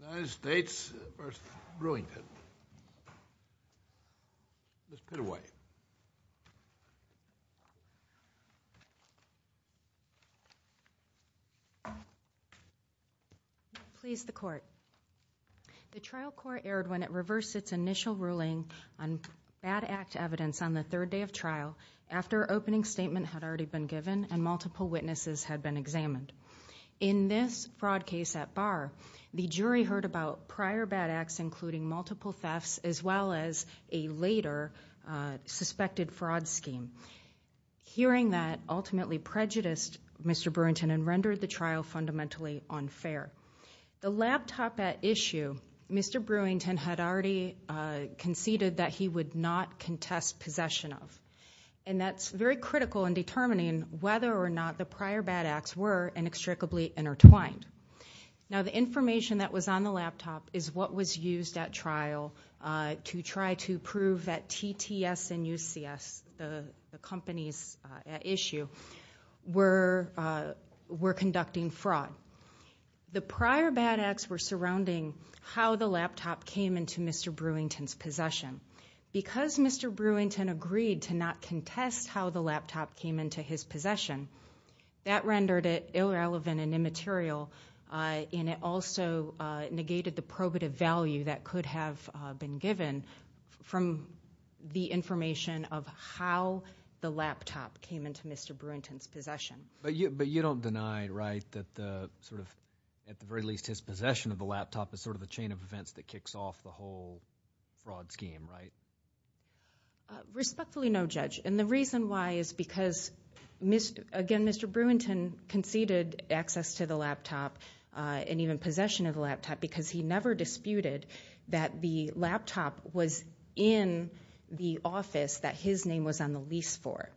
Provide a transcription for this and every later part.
United States v. Brewington Ms. Pittaway Please, the Court. The trial court erred when it reversed its initial ruling on bad act evidence on the third day of trial after opening statement had already been given and multiple witnesses had been examined. In this fraud case at Barr, the jury heard about prior bad acts including multiple thefts as well as a later suspected fraud scheme. Hearing that ultimately prejudiced Mr. Brewington and rendered the trial fundamentally unfair. The laptop at issue, Mr. Brewington had already conceded that he would not contest possession of. And that's very critical in determining whether or not the prior bad acts were inextricably intertwined. Now the information that was on the laptop is what was used at trial to try to prove that TTS and UCS, the companies at issue, were conducting fraud. The prior bad acts were surrounding how the laptop came into Mr. Brewington's possession. Because Mr. Brewington agreed to not contest how the laptop came into his possession, that rendered it irrelevant and immaterial. And it also negated the probative value that could have been given from the information of how the laptop came into Mr. Brewington's possession. But you don't deny, right, that at the very least his possession of the laptop is sort of the chain of events that kicks off the whole fraud scheme, right? Respectfully no, Judge. And the reason why is because, again, Mr. Brewington conceded access to the laptop and even possession of the laptop because he never disputed that the laptop was in the office that his name was on the lease for.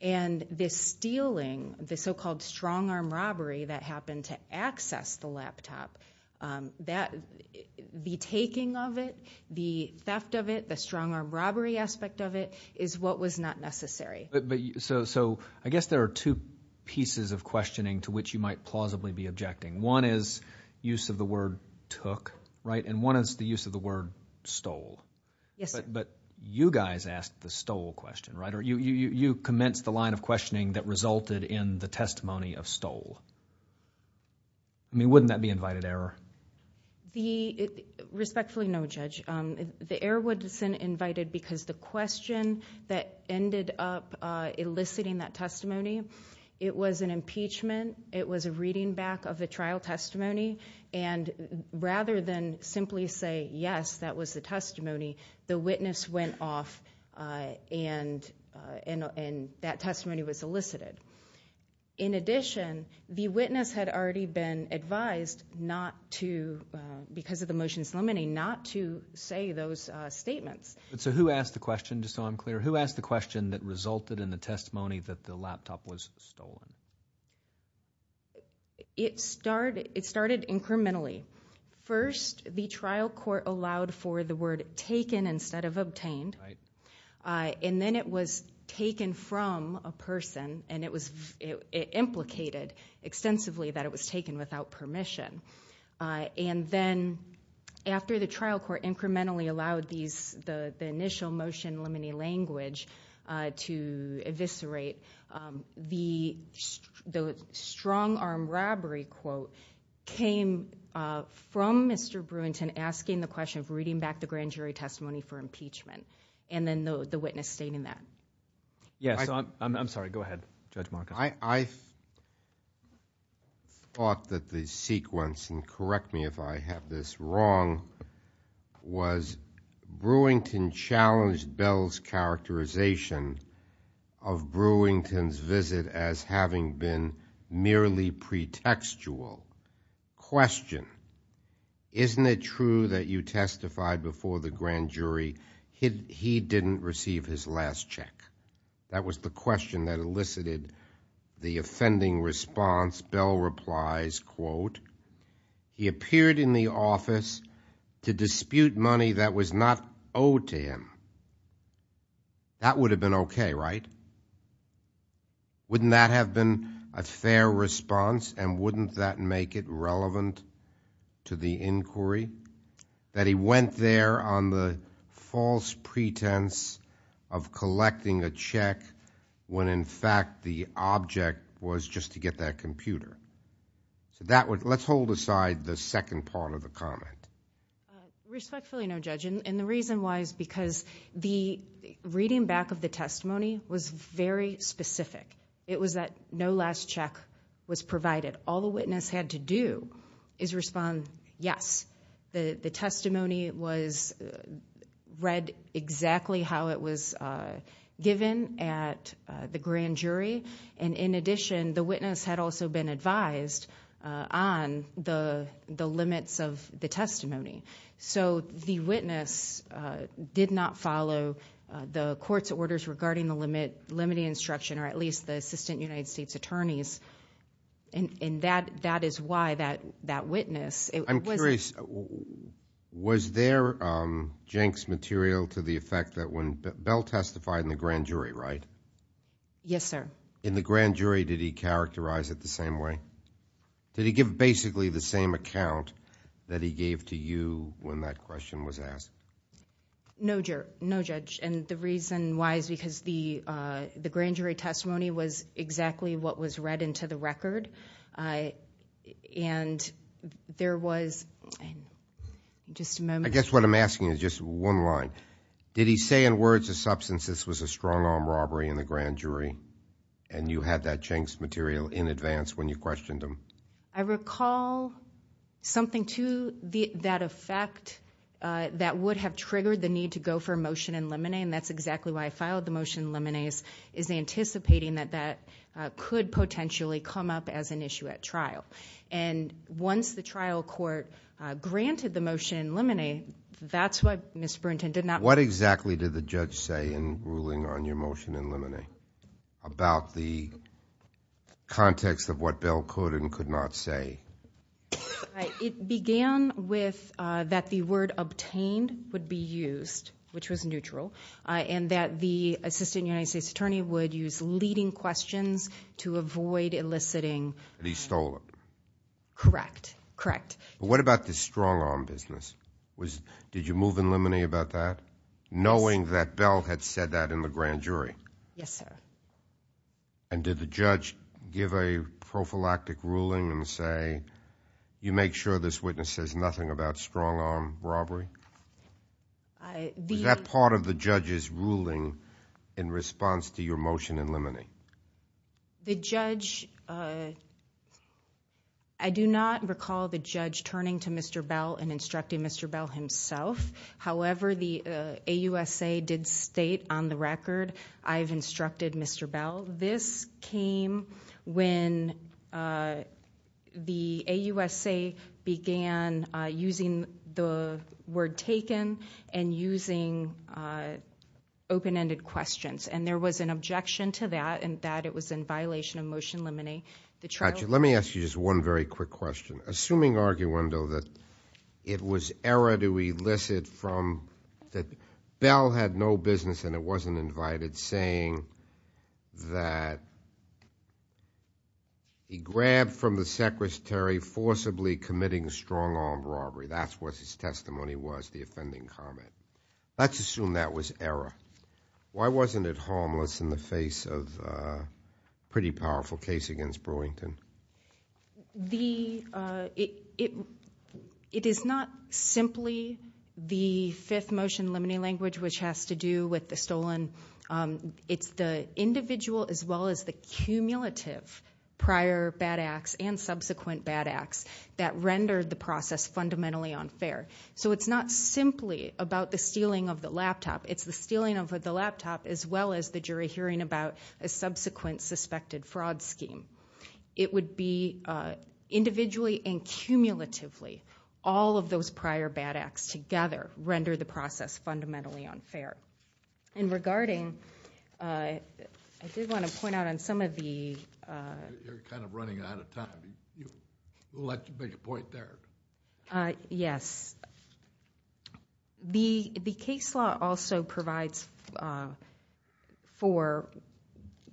And the stealing, the so-called strong-arm robbery that happened to access the laptop, the taking of it, the theft of it, the strong-arm robbery aspect of it is what was not necessary. So I guess there are two pieces of questioning to which you might plausibly be objecting. One is use of the word took, right, and one is the use of the word stole. Yes, sir. But you guys asked the stole question, right? You commenced the line of questioning that resulted in the testimony of stole. I mean, wouldn't that be invited error? Respectfully no, Judge. The error wasn't invited because the question that ended up eliciting that testimony, it was an impeachment. It was a reading back of the trial testimony. And rather than simply say, yes, that was the testimony, the witness went off and that testimony was elicited. In addition, the witness had already been advised not to, because of the motions limiting, not to say those statements. So who asked the question, just so I'm clear, who asked the question that resulted in the testimony that the laptop was stolen? It started incrementally. First, the trial court allowed for the word taken instead of obtained. And then it was taken from a person and it implicated extensively that it was taken without permission. And then after the trial court incrementally allowed the initial motion limiting language to eviscerate, the strong arm robbery quote came from Mr. Brewington asking the question of reading back the grand jury testimony for impeachment. And then the witness stating that. Yes, I'm sorry. Go ahead, Judge Marcus. I thought that the sequence, and correct me if I have this wrong, was Brewington challenged Bell's characterization of Brewington's visit as having been merely pretextual. Question, isn't it true that you testified before the grand jury he didn't receive his last check? That was the question that elicited the offending response. As Bell replies, quote, he appeared in the office to dispute money that was not owed to him. That would have been okay, right? Wouldn't that have been a fair response and wouldn't that make it relevant to the inquiry? That he went there on the false pretense of collecting a check when in fact the object was just to get that computer. So let's hold aside the second part of the comment. Respectfully, no, Judge. And the reason why is because the reading back of the testimony was very specific. It was that no last check was provided. All the witness had to do is respond yes. The testimony was read exactly how it was given at the grand jury. And in addition, the witness had also been advised on the limits of the testimony. So the witness did not follow the court's orders regarding the limiting instruction or at least the assistant United States attorneys. And that is why that witness. I'm curious, was there Jenks material to the effect that when Bell testified in the grand jury, right? Yes, sir. In the grand jury, did he characterize it the same way? Did he give basically the same account that he gave to you when that question was asked? No, Judge. And the reason why is because the grand jury testimony was exactly what was read into the record. And there was just a moment. I guess what I'm asking is just one line. Did he say in words of substance this was a strong arm robbery in the grand jury? And you had that Jenks material in advance when you questioned him. I recall something to that effect that would have triggered the need to go for a motion in limine. And that's exactly why I filed the motion in limine is anticipating that that could potentially come up as an issue at trial. And once the trial court granted the motion in limine, that's what Ms. Burnton did not. What exactly did the judge say in ruling on your motion in limine about the context of what Bell could and could not say? It began with that the word obtained would be used, which was neutral, and that the assistant United States attorney would use leading questions to avoid eliciting. And he stole it. Correct. Correct. What about this strong arm business? Did you move in limine about that, knowing that Bell had said that in the grand jury? Yes, sir. And did the judge give a prophylactic ruling and say, you make sure this witness says nothing about strong arm robbery? Is that part of the judge's ruling in response to your motion in limine? The judge, I do not recall the judge turning to Mr. Bell and instructing Mr. Bell himself. However, the AUSA did state on the record, I've instructed Mr. Bell. This came when the AUSA began using the word taken and using open-ended questions. And there was an objection to that, and that it was in violation of motion limine. Let me ask you just one very quick question. Assuming, arguendo, that it was error to elicit from, that Bell had no business and it wasn't invited, saying that he grabbed from the secretary forcibly committing strong arm robbery. That's what his testimony was, the offending comment. Let's assume that was error. Why wasn't it harmless in the face of a pretty powerful case against Brewington? It is not simply the fifth motion limine language, which has to do with the stolen. It's the individual as well as the cumulative prior bad acts and subsequent bad acts that rendered the process fundamentally unfair. So it's not simply about the stealing of the laptop. It's the stealing of the laptop as well as the jury hearing about a subsequent suspected fraud scheme. It would be individually and cumulatively all of those prior bad acts together rendered the process fundamentally unfair. And regarding, I did want to point out on some of the- You're kind of running out of time. I'd like to make a point there. Yes. The case law also provides for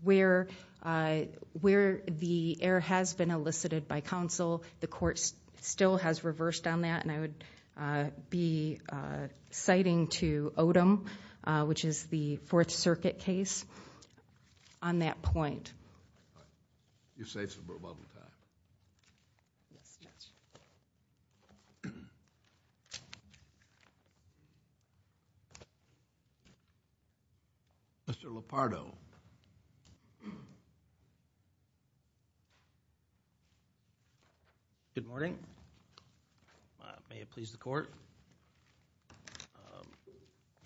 where the error has been elicited by counsel. The court still has reversed on that, and I would be citing to Odom, which is the Fourth Circuit case, on that point. You're safe for a moment with that. Yes. Mr. Lepardo. Good morning. May it please the court.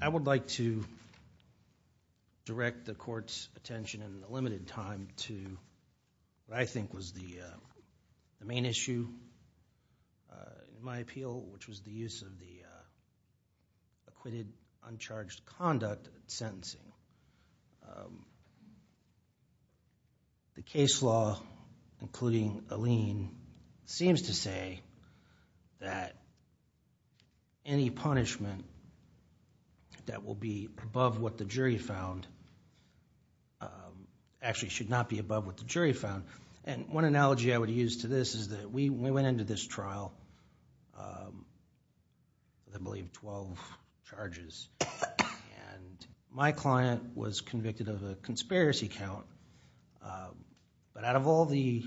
I would like to direct the court's attention in the limited time to what I think was the main issue in my appeal, which was the use of the acquitted, uncharged conduct in sentencing. The case law, including Alene, seems to say that any punishment that will be above what the jury found actually should not be above what the jury found. And one analogy I would use to this is that we went into this trial with, I believe, 12 charges. And my client was convicted of a conspiracy count. But out of all the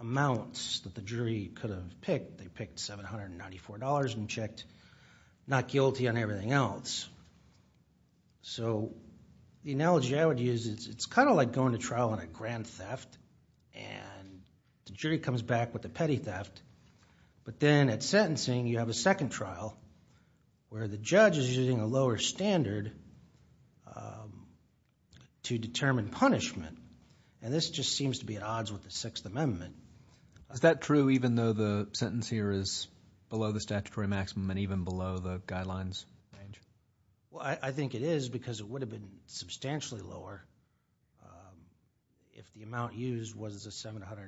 amounts that the jury could have picked, they picked $794 and checked not guilty on everything else. So the analogy I would use is it's kind of like going to trial on a grand theft, and the jury comes back with a petty theft. But then at sentencing, you have a second trial where the judge is using a lower standard to determine punishment. And this just seems to be at odds with the Sixth Amendment. Is that true even though the sentence here is below the statutory maximum and even below the guidelines? I think it is because it would have been substantially lower if the amount used was $794.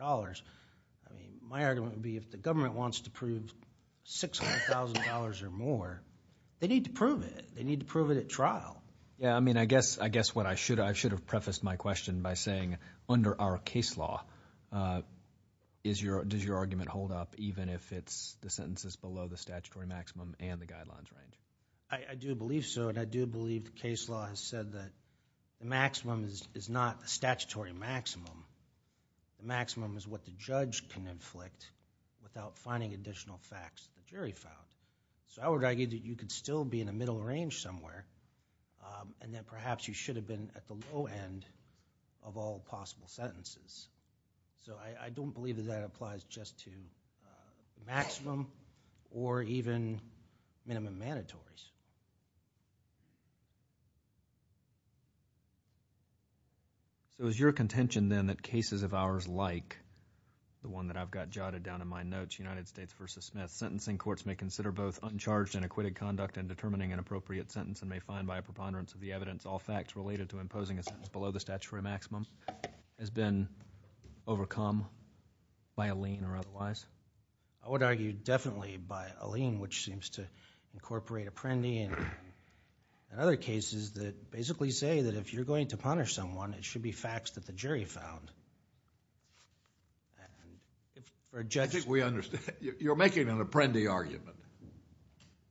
I mean my argument would be if the government wants to prove $600,000 or more, they need to prove it. They need to prove it at trial. Yeah, I mean I guess what I should have – I should have prefaced my question by saying under our case law, does your argument hold up even if the sentence is below the statutory maximum and the guidelines range? I do believe so, and I do believe the case law has said that the maximum is not the statutory maximum. The maximum is what the judge can inflict without finding additional facts in the jury file. So I would argue that you could still be in the middle range somewhere, and that perhaps you should have been at the low end of all possible sentences. So I don't believe that that applies just to maximum or even minimum mandatories. It was your contention then that cases of ours like the one that I've got jotted down in my notes, United States v. Smith, sentencing courts may consider both uncharged and acquitted conduct in determining an appropriate sentence and may find by a preponderance of the evidence all facts related to imposing a sentence below the statutory maximum has been overcome by a lien or otherwise? I would argue definitely by a lien which seems to incorporate apprendi and other cases that basically say that if you're going to punish someone, it should be facts that the jury found. I think we understand. You're making an apprendi argument,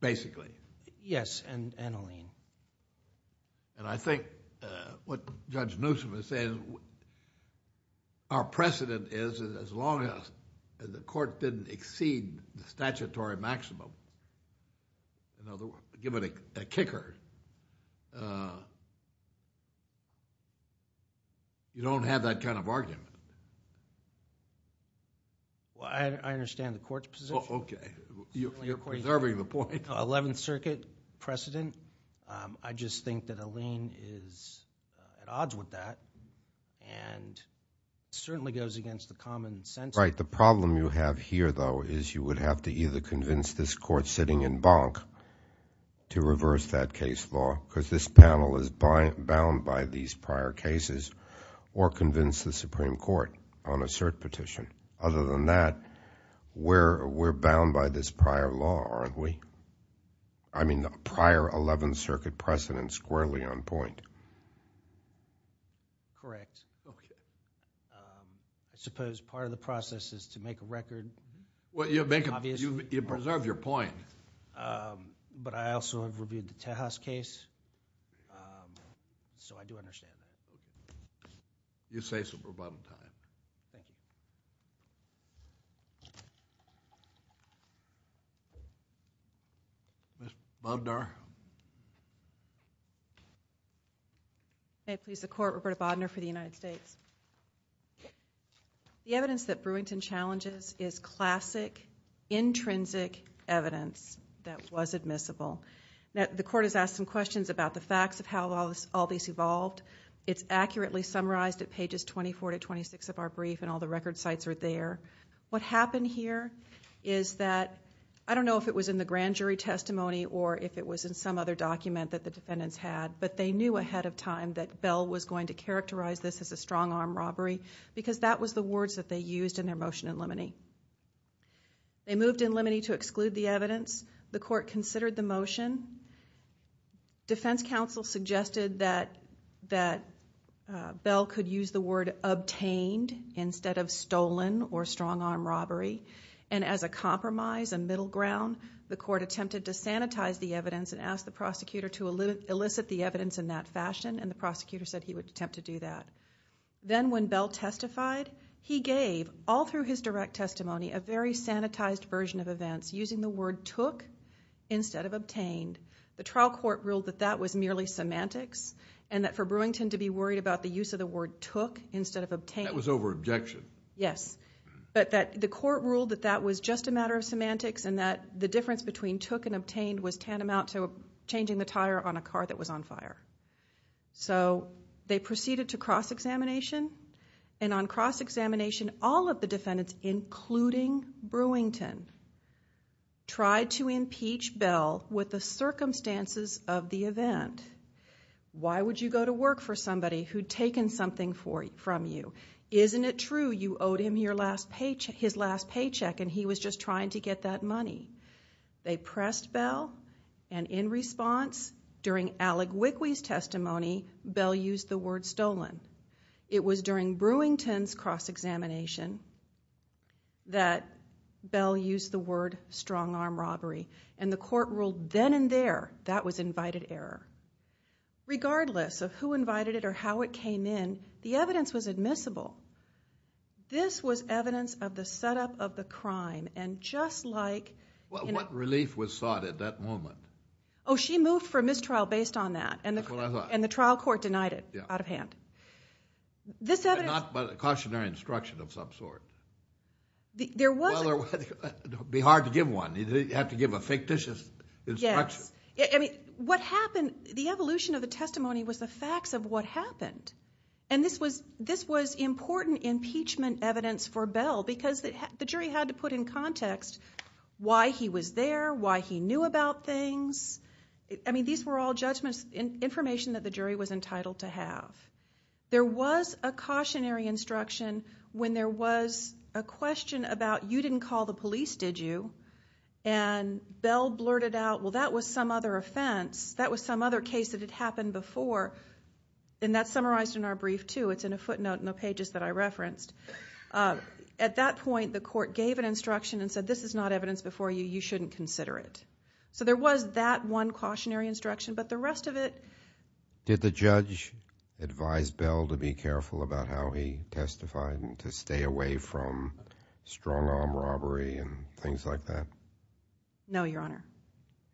basically. Yes, and a lien. I think what Judge Newsom is saying, our precedent is as long as the court didn't exceed the statutory maximum, give it a kicker, you don't have that kind of argument. I understand the court's position. Okay. You're preserving the point. I think 11th Circuit precedent, I just think that a lien is at odds with that and certainly goes against the common sense. Right. The problem you have here, though, is you would have to either convince this court sitting in Bonk to reverse that case law because this panel is bound by these prior cases or convince the Supreme Court on a cert petition. Other than that, we're bound by this prior law, aren't we? I mean the prior 11th Circuit precedent squarely on point. Correct. Okay. I suppose part of the process is to make a record. Well, you preserve your point. But I also have reviewed the Tejas case, so I do understand. You say so, but by the time. Okay. Ms. Bodnar. May it please the court, Roberta Bodnar for the United States. The evidence that Brewington challenges is classic, intrinsic evidence that was admissible. The court has asked some questions about the facts of how all these evolved. It's accurately summarized at pages 24 to 26 of our brief and all the record sites are there. What happened here is that I don't know if it was in the grand jury testimony or if it was in some other document that the defendants had, but they knew ahead of time that Bell was going to characterize this as a strong arm robbery because that was the words that they used in their motion in Limine. They moved in Limine to exclude the evidence. The court considered the motion. Defense counsel suggested that Bell could use the word obtained instead of stolen or strong arm robbery, and as a compromise, a middle ground, the court attempted to sanitize the evidence and asked the prosecutor to elicit the evidence in that fashion, and the prosecutor said he would attempt to do that. Then when Bell testified, he gave, all through his direct testimony, a very sanitized version of events using the word took instead of obtained. The trial court ruled that that was merely semantics and that for Brewington to be worried about the use of the word took instead of obtained... That was over objection. Yes, but the court ruled that that was just a matter of semantics and that the difference between took and obtained was tantamount to changing the tire on a car that was on fire. They proceeded to cross-examination, and on cross-examination, all of the defendants, including Brewington, tried to impeach Bell with the circumstances of the event. Why would you go to work for somebody who'd taken something from you? Isn't it true you owed him his last paycheck and he was just trying to get that money? They pressed Bell, and in response, during Alec Wickley's testimony, Bell used the word stolen. It was during Brewington's cross-examination that Bell used the word strong-arm robbery, and the court ruled then and there that was invited error. Regardless of who invited it or how it came in, the evidence was admissible. This was evidence of the setup of the crime, and just like... What relief was sought at that moment? Oh, she moved for mistrial based on that. That's what I thought. And the trial court denied it out of hand. This evidence... But not a cautionary instruction of some sort. There was... It would be hard to give one. You'd have to give a fictitious instruction. Yes. What happened, the evolution of the testimony was the facts of what happened, and this was important impeachment evidence for Bell because the jury had to put in context why he was there, why he knew about things. These were all judgments, information that the jury was entitled to have. There was a cautionary instruction when there was a question about, you didn't call the police, did you? And Bell blurted out, well, that was some other offense. That was some other case that had happened before. And that's summarized in our brief, too. It's in a footnote in the pages that I referenced. At that point, the court gave an instruction and said, this is not evidence before you. You shouldn't consider it. So there was that one cautionary instruction, but the rest of it... Did the judge advise Bell to be careful about how he testified and to stay away from strong-arm robbery and things like that? No, Your Honor.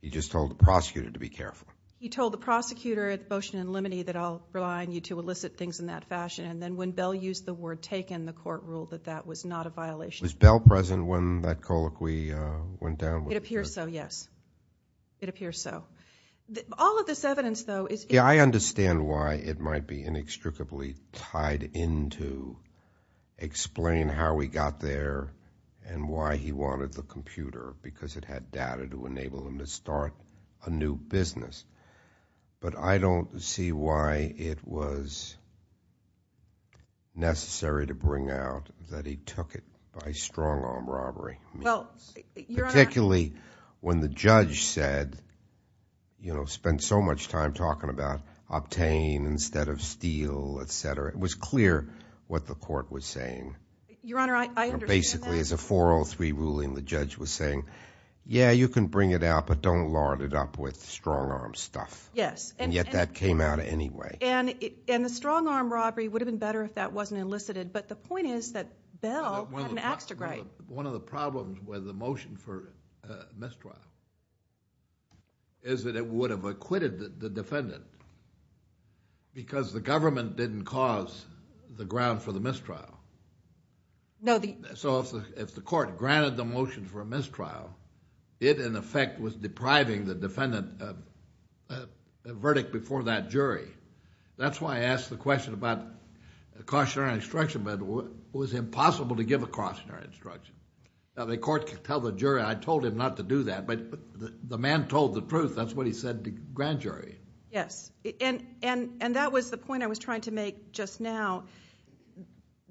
He just told the prosecutor to be careful. He told the prosecutor at motion and limine that I'll rely on you to elicit things in that fashion, and then when Bell used the word taken, the court ruled that that was not a violation. Was Bell present when that colloquy went down? It appears so, yes. It appears so. All of this evidence, though... Yeah, I understand why it might be inextricably tied in to explain how he got there and why he wanted the computer, because it had data to enable him to start a new business. But I don't see why it was necessary to bring out that he took it by strong-arm robbery. Well, Your Honor... Particularly when the judge said, you know, spent so much time talking about obtain instead of steal, et cetera. It was clear what the court was saying. Your Honor, I understand that. Basically, as a 403 ruling, the judge was saying, yeah, you can bring it out, but don't lard it up with strong-arm stuff. Yes. And yet that came out anyway. And the strong-arm robbery would have been better if that wasn't elicited, but the point is that Bell had an ax to grind. One of the problems with the motion for mistrial is that it would have acquitted the defendant because the government didn't cause the ground for the mistrial. So if the court granted the motion for a mistrial, it, in effect, was depriving the defendant of a verdict before that jury. That's why I asked the question about cautionary instruction, but it was impossible to give a cautionary instruction. The court could tell the jury. I told him not to do that, but the man told the truth. That's what he said to the grand jury. Yes, and that was the point I was trying to make just now.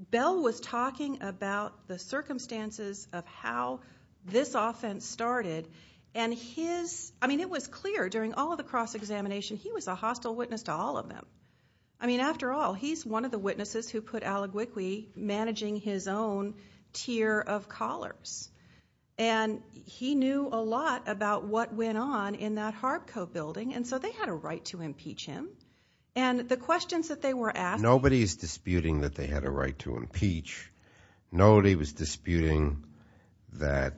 Bell was talking about the circumstances of how this offense started, and his... I mean, it was clear during all of the cross-examination, he was a hostile witness to all of them. I mean, after all, he's one of the witnesses who put Allegwickie managing his own tier of collars. And he knew a lot about what went on in that Harp Co. building, and so they had a right to impeach him. And the questions that they were asking... Nobody is disputing that they had a right to impeach. Nobody was disputing that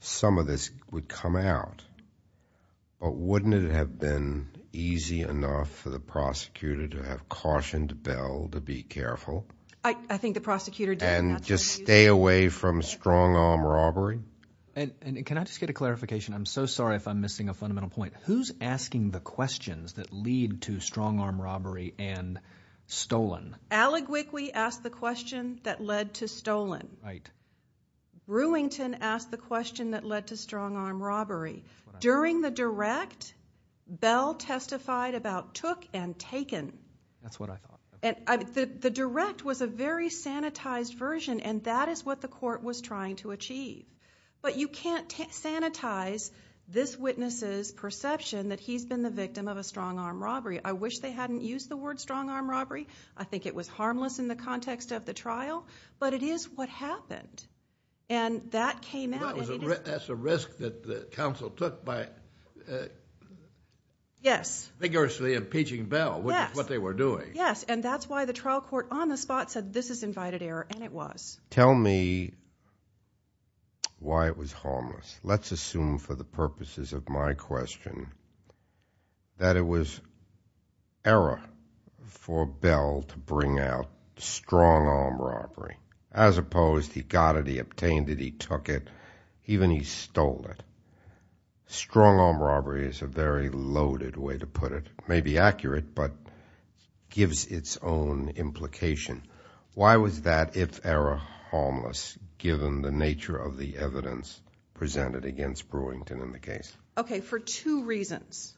some of this would come out. But wouldn't it have been easy enough for the prosecutor to have cautioned Bell to be careful? I think the prosecutor did. And just stay away from strong-arm robbery? And can I just get a clarification? I'm so sorry if I'm missing a fundamental point. Who's asking the questions that lead to strong-arm robbery and stolen? Right. Brewington asked the question that led to strong-arm robbery. During the direct, Bell testified about took and taken. That's what I thought. The direct was a very sanitized version, and that is what the court was trying to achieve. But you can't sanitize this witness's perception that he's been the victim of a strong-arm robbery. I wish they hadn't used the word strong-arm robbery. I think it was harmless in the context of the trial. But it is what happened, and that came out. That's a risk that the counsel took by vigorously impeaching Bell, which is what they were doing. Yes, and that's why the trial court on the spot said this is invited error, and it was. Tell me why it was harmless. Let's assume for the purposes of my question that it was error for Bell to bring out strong-arm robbery, as opposed he got it, he obtained it, he took it, even he stole it. Strong-arm robbery is a very loaded way to put it. It may be accurate, but it gives its own implication. Why was that if error harmless, given the nature of the evidence presented against Brewington in the case? Okay, for two reasons.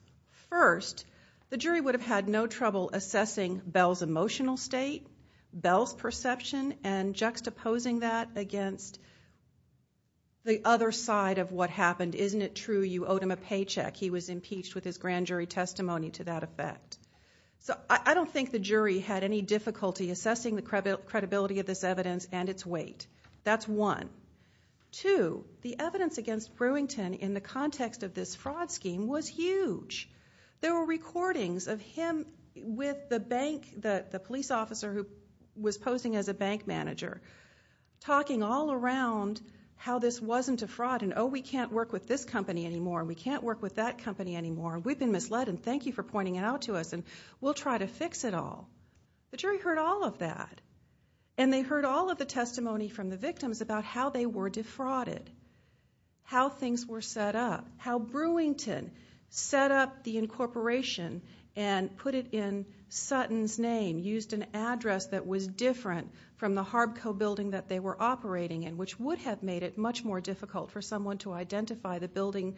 First, the jury would have had no trouble assessing Bell's emotional state, Bell's perception, and juxtaposing that against the other side of what happened. Isn't it true you owed him a paycheck? He was impeached with his grand jury testimony to that effect. I don't think the jury had any difficulty assessing the credibility of this evidence and its weight. That's one. Two, the evidence against Brewington in the context of this fraud scheme was huge. There were recordings of him with the bank, the police officer who was posing as a bank manager, talking all around how this wasn't a fraud and, oh, we can't work with this company anymore, we can't work with that company anymore, we've been misled, and thank you for pointing it out to us, and we'll try to fix it all. The jury heard all of that, and they heard all of the testimony from the victims about how they were defrauded, how things were set up, how Brewington set up the incorporation and put it in Sutton's name, used an address that was different from the Harbco building that they were operating in, which would have made it much more difficult for someone to identify the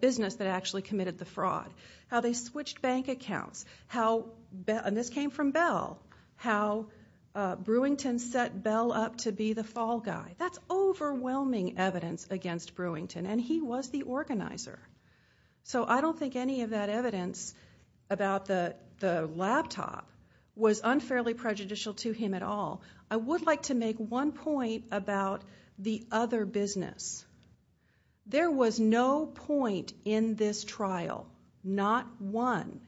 business that actually committed the fraud. How they switched bank accounts, and this came from Bell, how Brewington set Bell up to be the fall guy. That's overwhelming evidence against Brewington, and he was the organizer. So I don't think any of that evidence about the laptop was unfairly prejudicial to him at all. I would like to make one point about the other business. There was no point in this trial, not one,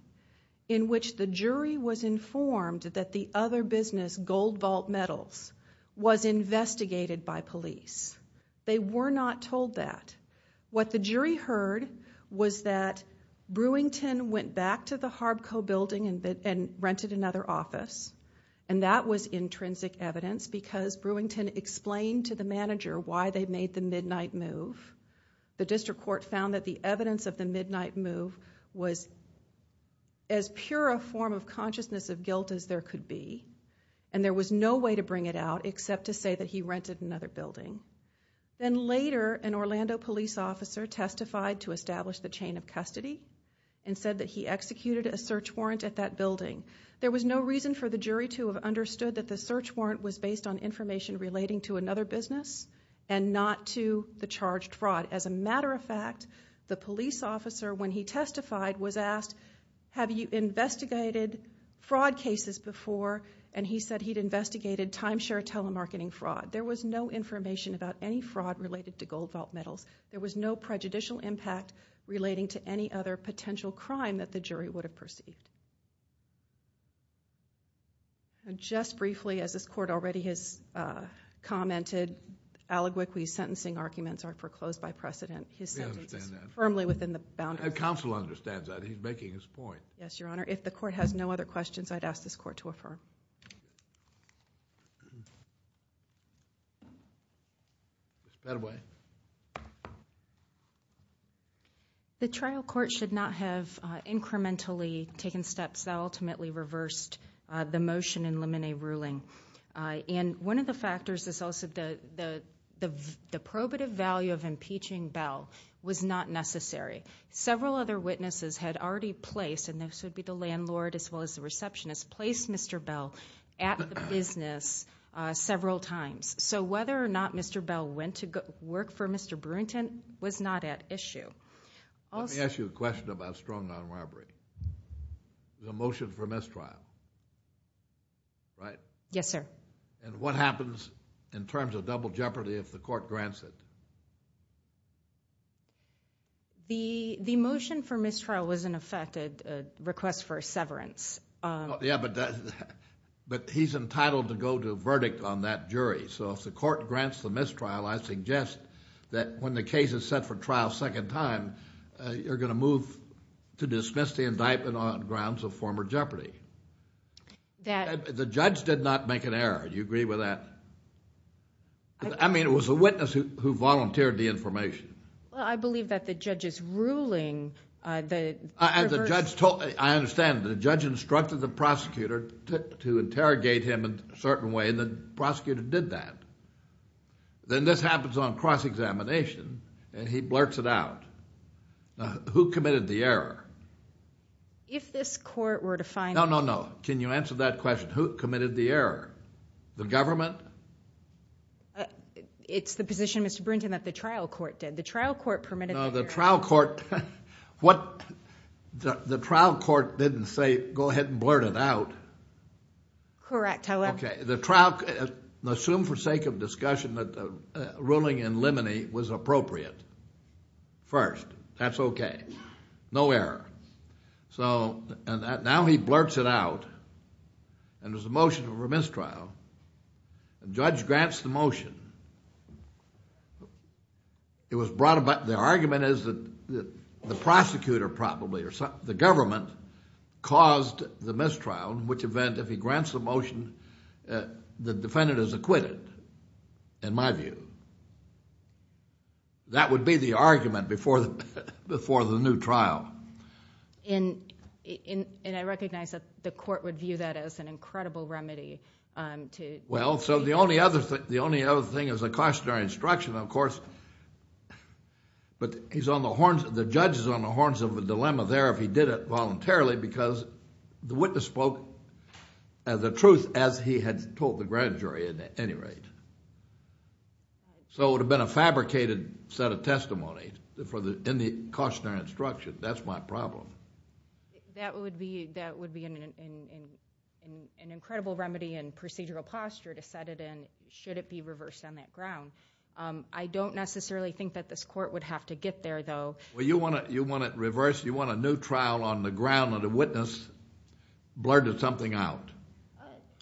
in which the jury was informed that the other business, Gold Vault Metals, was investigated by police. They were not told that. What the jury heard was that Brewington went back to the Harbco building and rented another office, and that was intrinsic evidence because Brewington explained to the manager why they made the midnight move. The district court found that the evidence of the midnight move was as pure a form of consciousness of guilt as there could be, and there was no way to bring it out except to say that he rented another building. Then later, an Orlando police officer testified to establish the chain of custody and said that he executed a search warrant at that building. There was no reason for the jury to have understood that the search warrant was based on information relating to another business and not to the charged fraud. As a matter of fact, the police officer, when he testified, was asked, have you investigated fraud cases before, and he said he'd investigated timeshare telemarketing fraud. There was no information about any fraud related to Gold Vault Metals. There was no prejudicial impact relating to any other potential crime that the jury would have perceived. Just briefly, as this court already has commented, allegorically sentencing arguments are foreclosed by precedent. His sentence is firmly within the boundaries. Counsel understands that. He's making his point. Yes, Your Honor. If the court has no other questions, I'd ask this court to affirm. That way. The trial court should not have incrementally taken steps that ultimately reversed the motion in Lemonet's ruling. One of the factors is also the probative value of impeaching Bell was not necessary. Several other witnesses had already placed, and this would be the landlord as well as the receptionist, placed Mr. Bell at the business several times. So whether or not Mr. Bell went to work for Mr. Brewington was not at issue. Let me ask you a question about strong armed robbery. The motion for mistrial, right? Yes, sir. And what happens in terms of double jeopardy if the court grants it? The motion for mistrial was in effect a request for severance. Yeah, but he's entitled to go to a verdict on that jury. So if the court grants the mistrial, I suggest that when the case is set for trial a second time, you're going to move to dismiss the indictment on grounds of former jeopardy. The judge did not make an error. Do you agree with that? I mean, it was a witness who volunteered the information. Well, I believe that the judge is ruling the reverse. I understand. The judge instructed the prosecutor to interrogate him in a certain way, and the prosecutor did that. Then this happens on cross-examination, and he blurts it out. Who committed the error? If this court were to find out. No, no, no. Can you answer that question? Who committed the error? The government? It's the position, Mr. Brewington, that the trial court did. The trial court permitted the error. No, the trial court didn't say, go ahead and blurt it out. Correct, however. Okay, the trial court assumed for sake of discussion that ruling in limine was appropriate first. That's okay. No error. So now he blurts it out, and there's a motion for mistrial. The judge grants the motion. The argument is that the prosecutor probably, or the government, caused the mistrial, in which event if he grants the motion, the defendant is acquitted, in my view. That would be the argument before the new trial. And I recognize that the court would view that as an incredible remedy. Well, so the only other thing is a cautionary instruction, of course. But the judge is on the horns of a dilemma there if he did it voluntarily, because the witness spoke the truth as he had told the grand jury at any rate. So it would have been a fabricated set of testimony in the cautionary instruction. That's my problem. That would be an incredible remedy and procedural posture to set it in, should it be reversed on that ground. I don't necessarily think that this court would have to get there, though. Well, you want it reversed? You want a new trial on the ground that a witness blurted something out?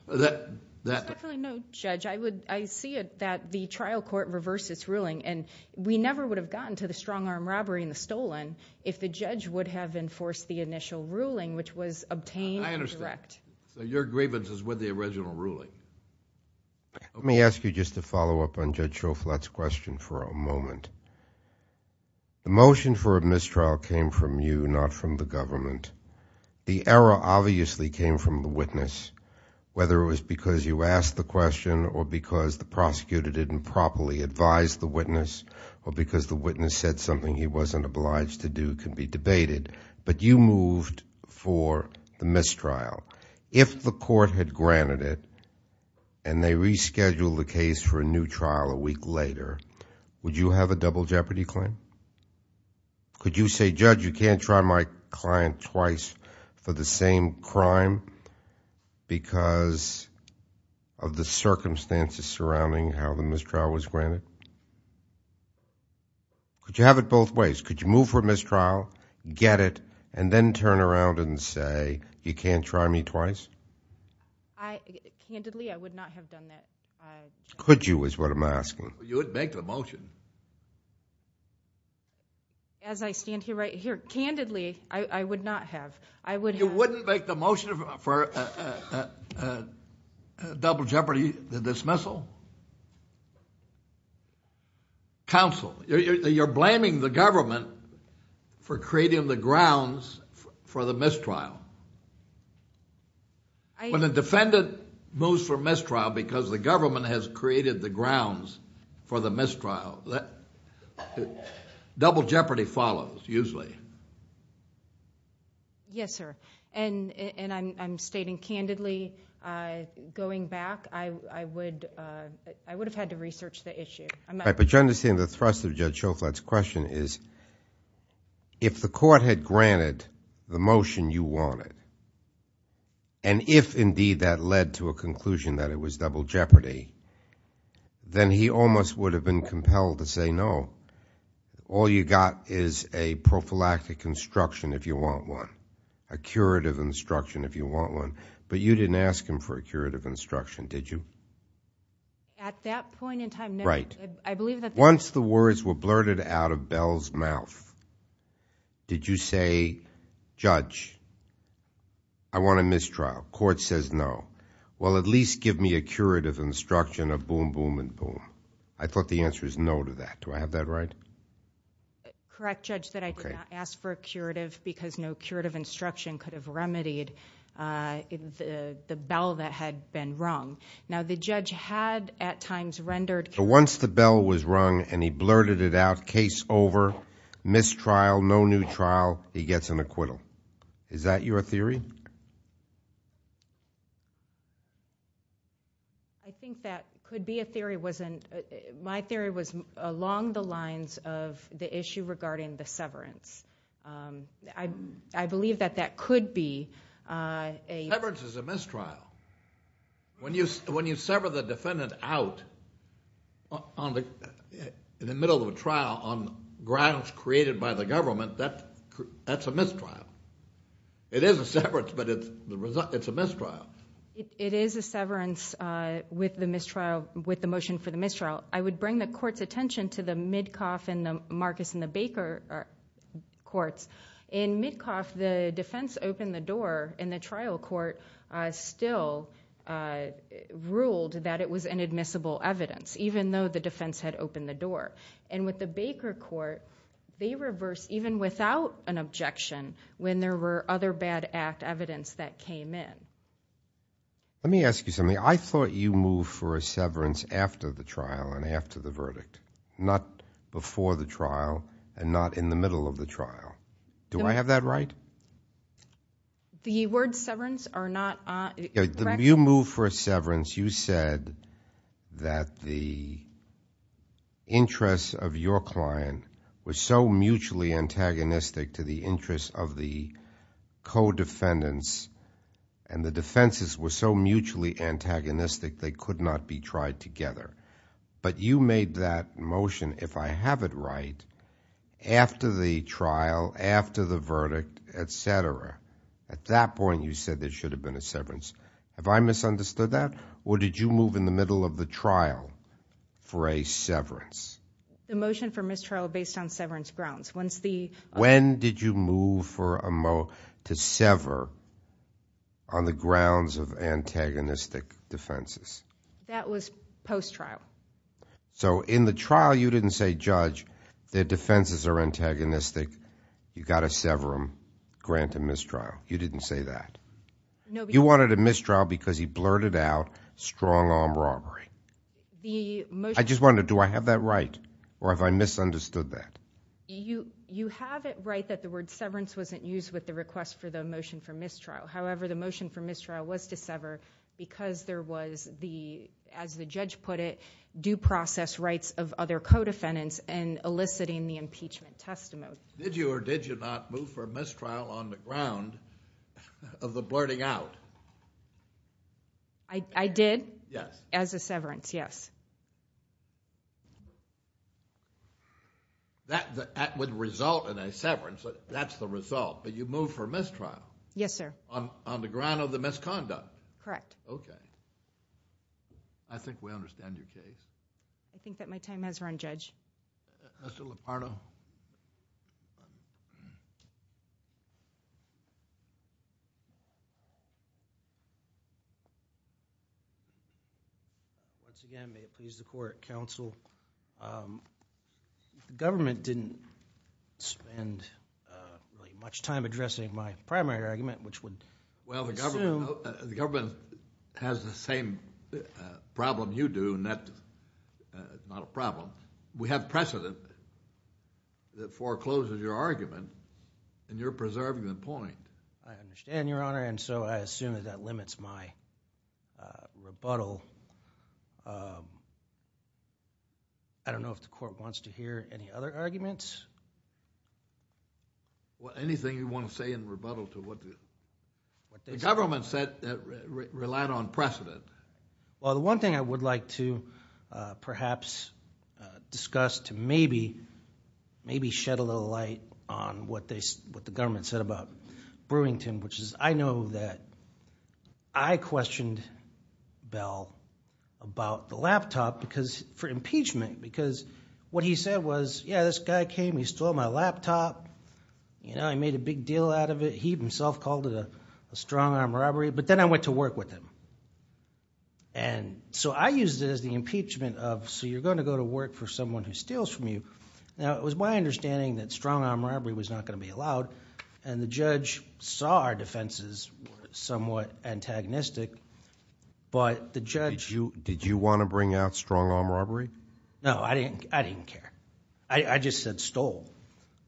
Oh, there's definitely no judge. I see it that the trial court reversed its ruling, and we never would have gotten to the strong-arm robbery and the stolen if the judge would have enforced the initial ruling, which was obtained and direct. I understand. So your grievance is with the original ruling. Let me ask you just a follow-up on Judge Shoflat's question for a moment. The motion for a mistrial came from you, not from the government. The error obviously came from the witness, whether it was because you asked the question or because the prosecutor didn't properly advise the witness or because the witness said something he wasn't obliged to do can be debated. But you moved for the mistrial. If the court had granted it and they rescheduled the case for a new trial a week later, would you have a double jeopardy claim? Could you say, Judge, you can't try my client twice for the same crime because of the circumstances surrounding how the mistrial was granted? Could you have it both ways? Could you move for a mistrial, get it, and then turn around and say you can't try me twice? Candidly, I would not have done that. Could you is what I'm asking. You wouldn't make the motion. As I stand here right here, candidly, I would not have. You wouldn't make the motion for a double jeopardy dismissal? Counsel, you're blaming the government for creating the grounds for the mistrial. When a defendant moves for mistrial because the government has created the grounds for the mistrial, double jeopardy follows usually. Yes, sir. And I'm stating candidly, going back, I would have had to research the issue. But you understand the thrust of Judge Schofield's question is if the court had granted the motion you wanted and if, indeed, that led to a conclusion that it was double jeopardy, then he almost would have been compelled to say no. All you got is a prophylactic instruction if you want one, a curative instruction if you want one. But you didn't ask him for a curative instruction, did you? At that point in time, no. Right. I believe that the court said. Once the words were blurted out of Bell's mouth, did you say, Judge, I want a mistrial? Court says no. Well, at least give me a curative instruction of boom, boom, and boom. I thought the answer is no to that. Do I have that right? Correct, Judge, that I did not ask for a curative because no curative instruction could have remedied the bell that had been rung. Now, the judge had at times rendered. So once the bell was rung and he blurted it out, case over, mistrial, no new trial, he gets an acquittal. Is that your theory? I think that could be a theory. My theory was along the lines of the issue regarding the severance. I believe that that could be a. Severance is a mistrial. When you sever the defendant out in the middle of a trial on grounds created by the government, that's a mistrial. It is a severance, but it's a mistrial. It is a severance with the motion for the mistrial. I would bring the court's attention to the Midcoff and the Marcus and the Baker courts. In Midcoff, the defense opened the door, and the trial court still ruled that it was inadmissible evidence, even though the defense had opened the door. And with the Baker court, they reversed even without an objection when there were other bad act evidence that came in. Let me ask you something. I thought you moved for a severance after the trial and after the verdict, not before the trial and not in the middle of the trial. Do I have that right? The word severance are not. You moved for a severance. You said that the interest of your client was so mutually antagonistic to the interest of the co-defendants, and the defenses were so mutually antagonistic they could not be tried together. But you made that motion, if I have it right, after the trial, after the verdict, etc. At that point, you said there should have been a severance. Have I misunderstood that, or did you move in the middle of the trial for a severance? The motion for mistrial was based on severance grounds. When did you move to sever on the grounds of antagonistic defenses? That was post-trial. So in the trial, you didn't say, Judge, their defenses are antagonistic. You've got to sever them, grant a mistrial. You didn't say that. You wanted a mistrial because he blurted out strong-arm robbery. I just wondered, do I have that right, or have I misunderstood that? You have it right that the word severance wasn't used with the request for the motion for mistrial. Because there was, as the judge put it, due process rights of other co-defendants and eliciting the impeachment testimony. Did you or did you not move for a mistrial on the ground of the blurting out? I did. Yes. As a severance, yes. That would result in a severance. That's the result. But you moved for a mistrial. Yes, sir. On the ground of the misconduct. Correct. Okay. I think we understand your case. I think that my time has run, Judge. Mr. Lupardo. Once again, may it please the Court, Counsel, the government didn't spend much time addressing my primary argument, which would assume— Well, the government has the same problem you do, and that's not a problem. We have precedent that forecloses your argument, and you're preserving the point. I understand, Your Honor, and so I assume that that limits my rebuttal. I don't know if the Court wants to hear any other arguments. Anything you want to say in rebuttal to what the government said that relied on precedent? Well, the one thing I would like to perhaps discuss to maybe shed a little light on what the government said about Brewington, which is I know that I questioned Bell about the laptop for impeachment because what he said was, yeah, this guy came, he stole my laptop. He made a big deal out of it. He himself called it a strong-arm robbery, but then I went to work with him. I used it as the impeachment of, so you're going to go to work for someone who steals from you. Now, it was my understanding that strong-arm robbery was not going to be allowed, and the judge saw our defenses somewhat antagonistic, but the judge... Strong-arm robbery? No, I didn't care. I just said stole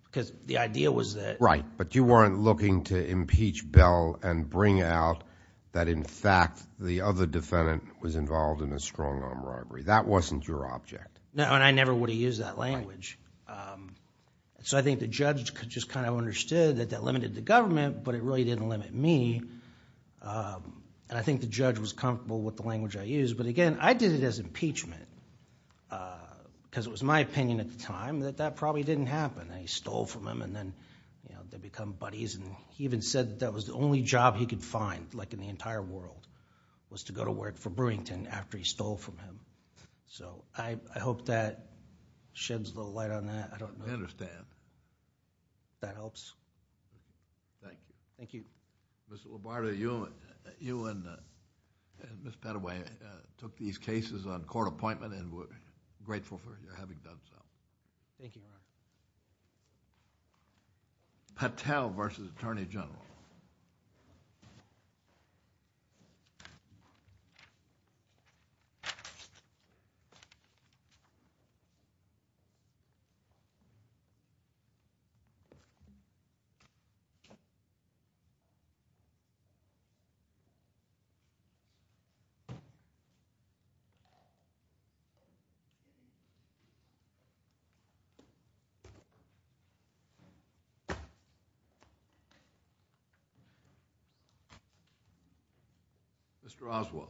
because the idea was that... Right, but you weren't looking to impeach Bell and bring out that in fact the other defendant was involved in a strong-arm robbery. That wasn't your object. No, and I never would have used that language. I think the judge just understood that that limited the government, but it really didn't limit me. I think the judge was comfortable with the language I used, but again, I did it as impeachment because it was my opinion at the time that that probably didn't happen. They stole from him, and then they become buddies. He even said that was the only job he could find, like in the entire world, was to go to work for Brewington after he stole from him. I hope that sheds a little light on that. I don't know. I understand. If that helps. Thank you. Thank you. Mr. Labarda, you and Ms. Padaway took these cases on court appointment and we're grateful for your having done so. Thank you, Your Honor. Patel versus Attorney General. Mr. Oswald.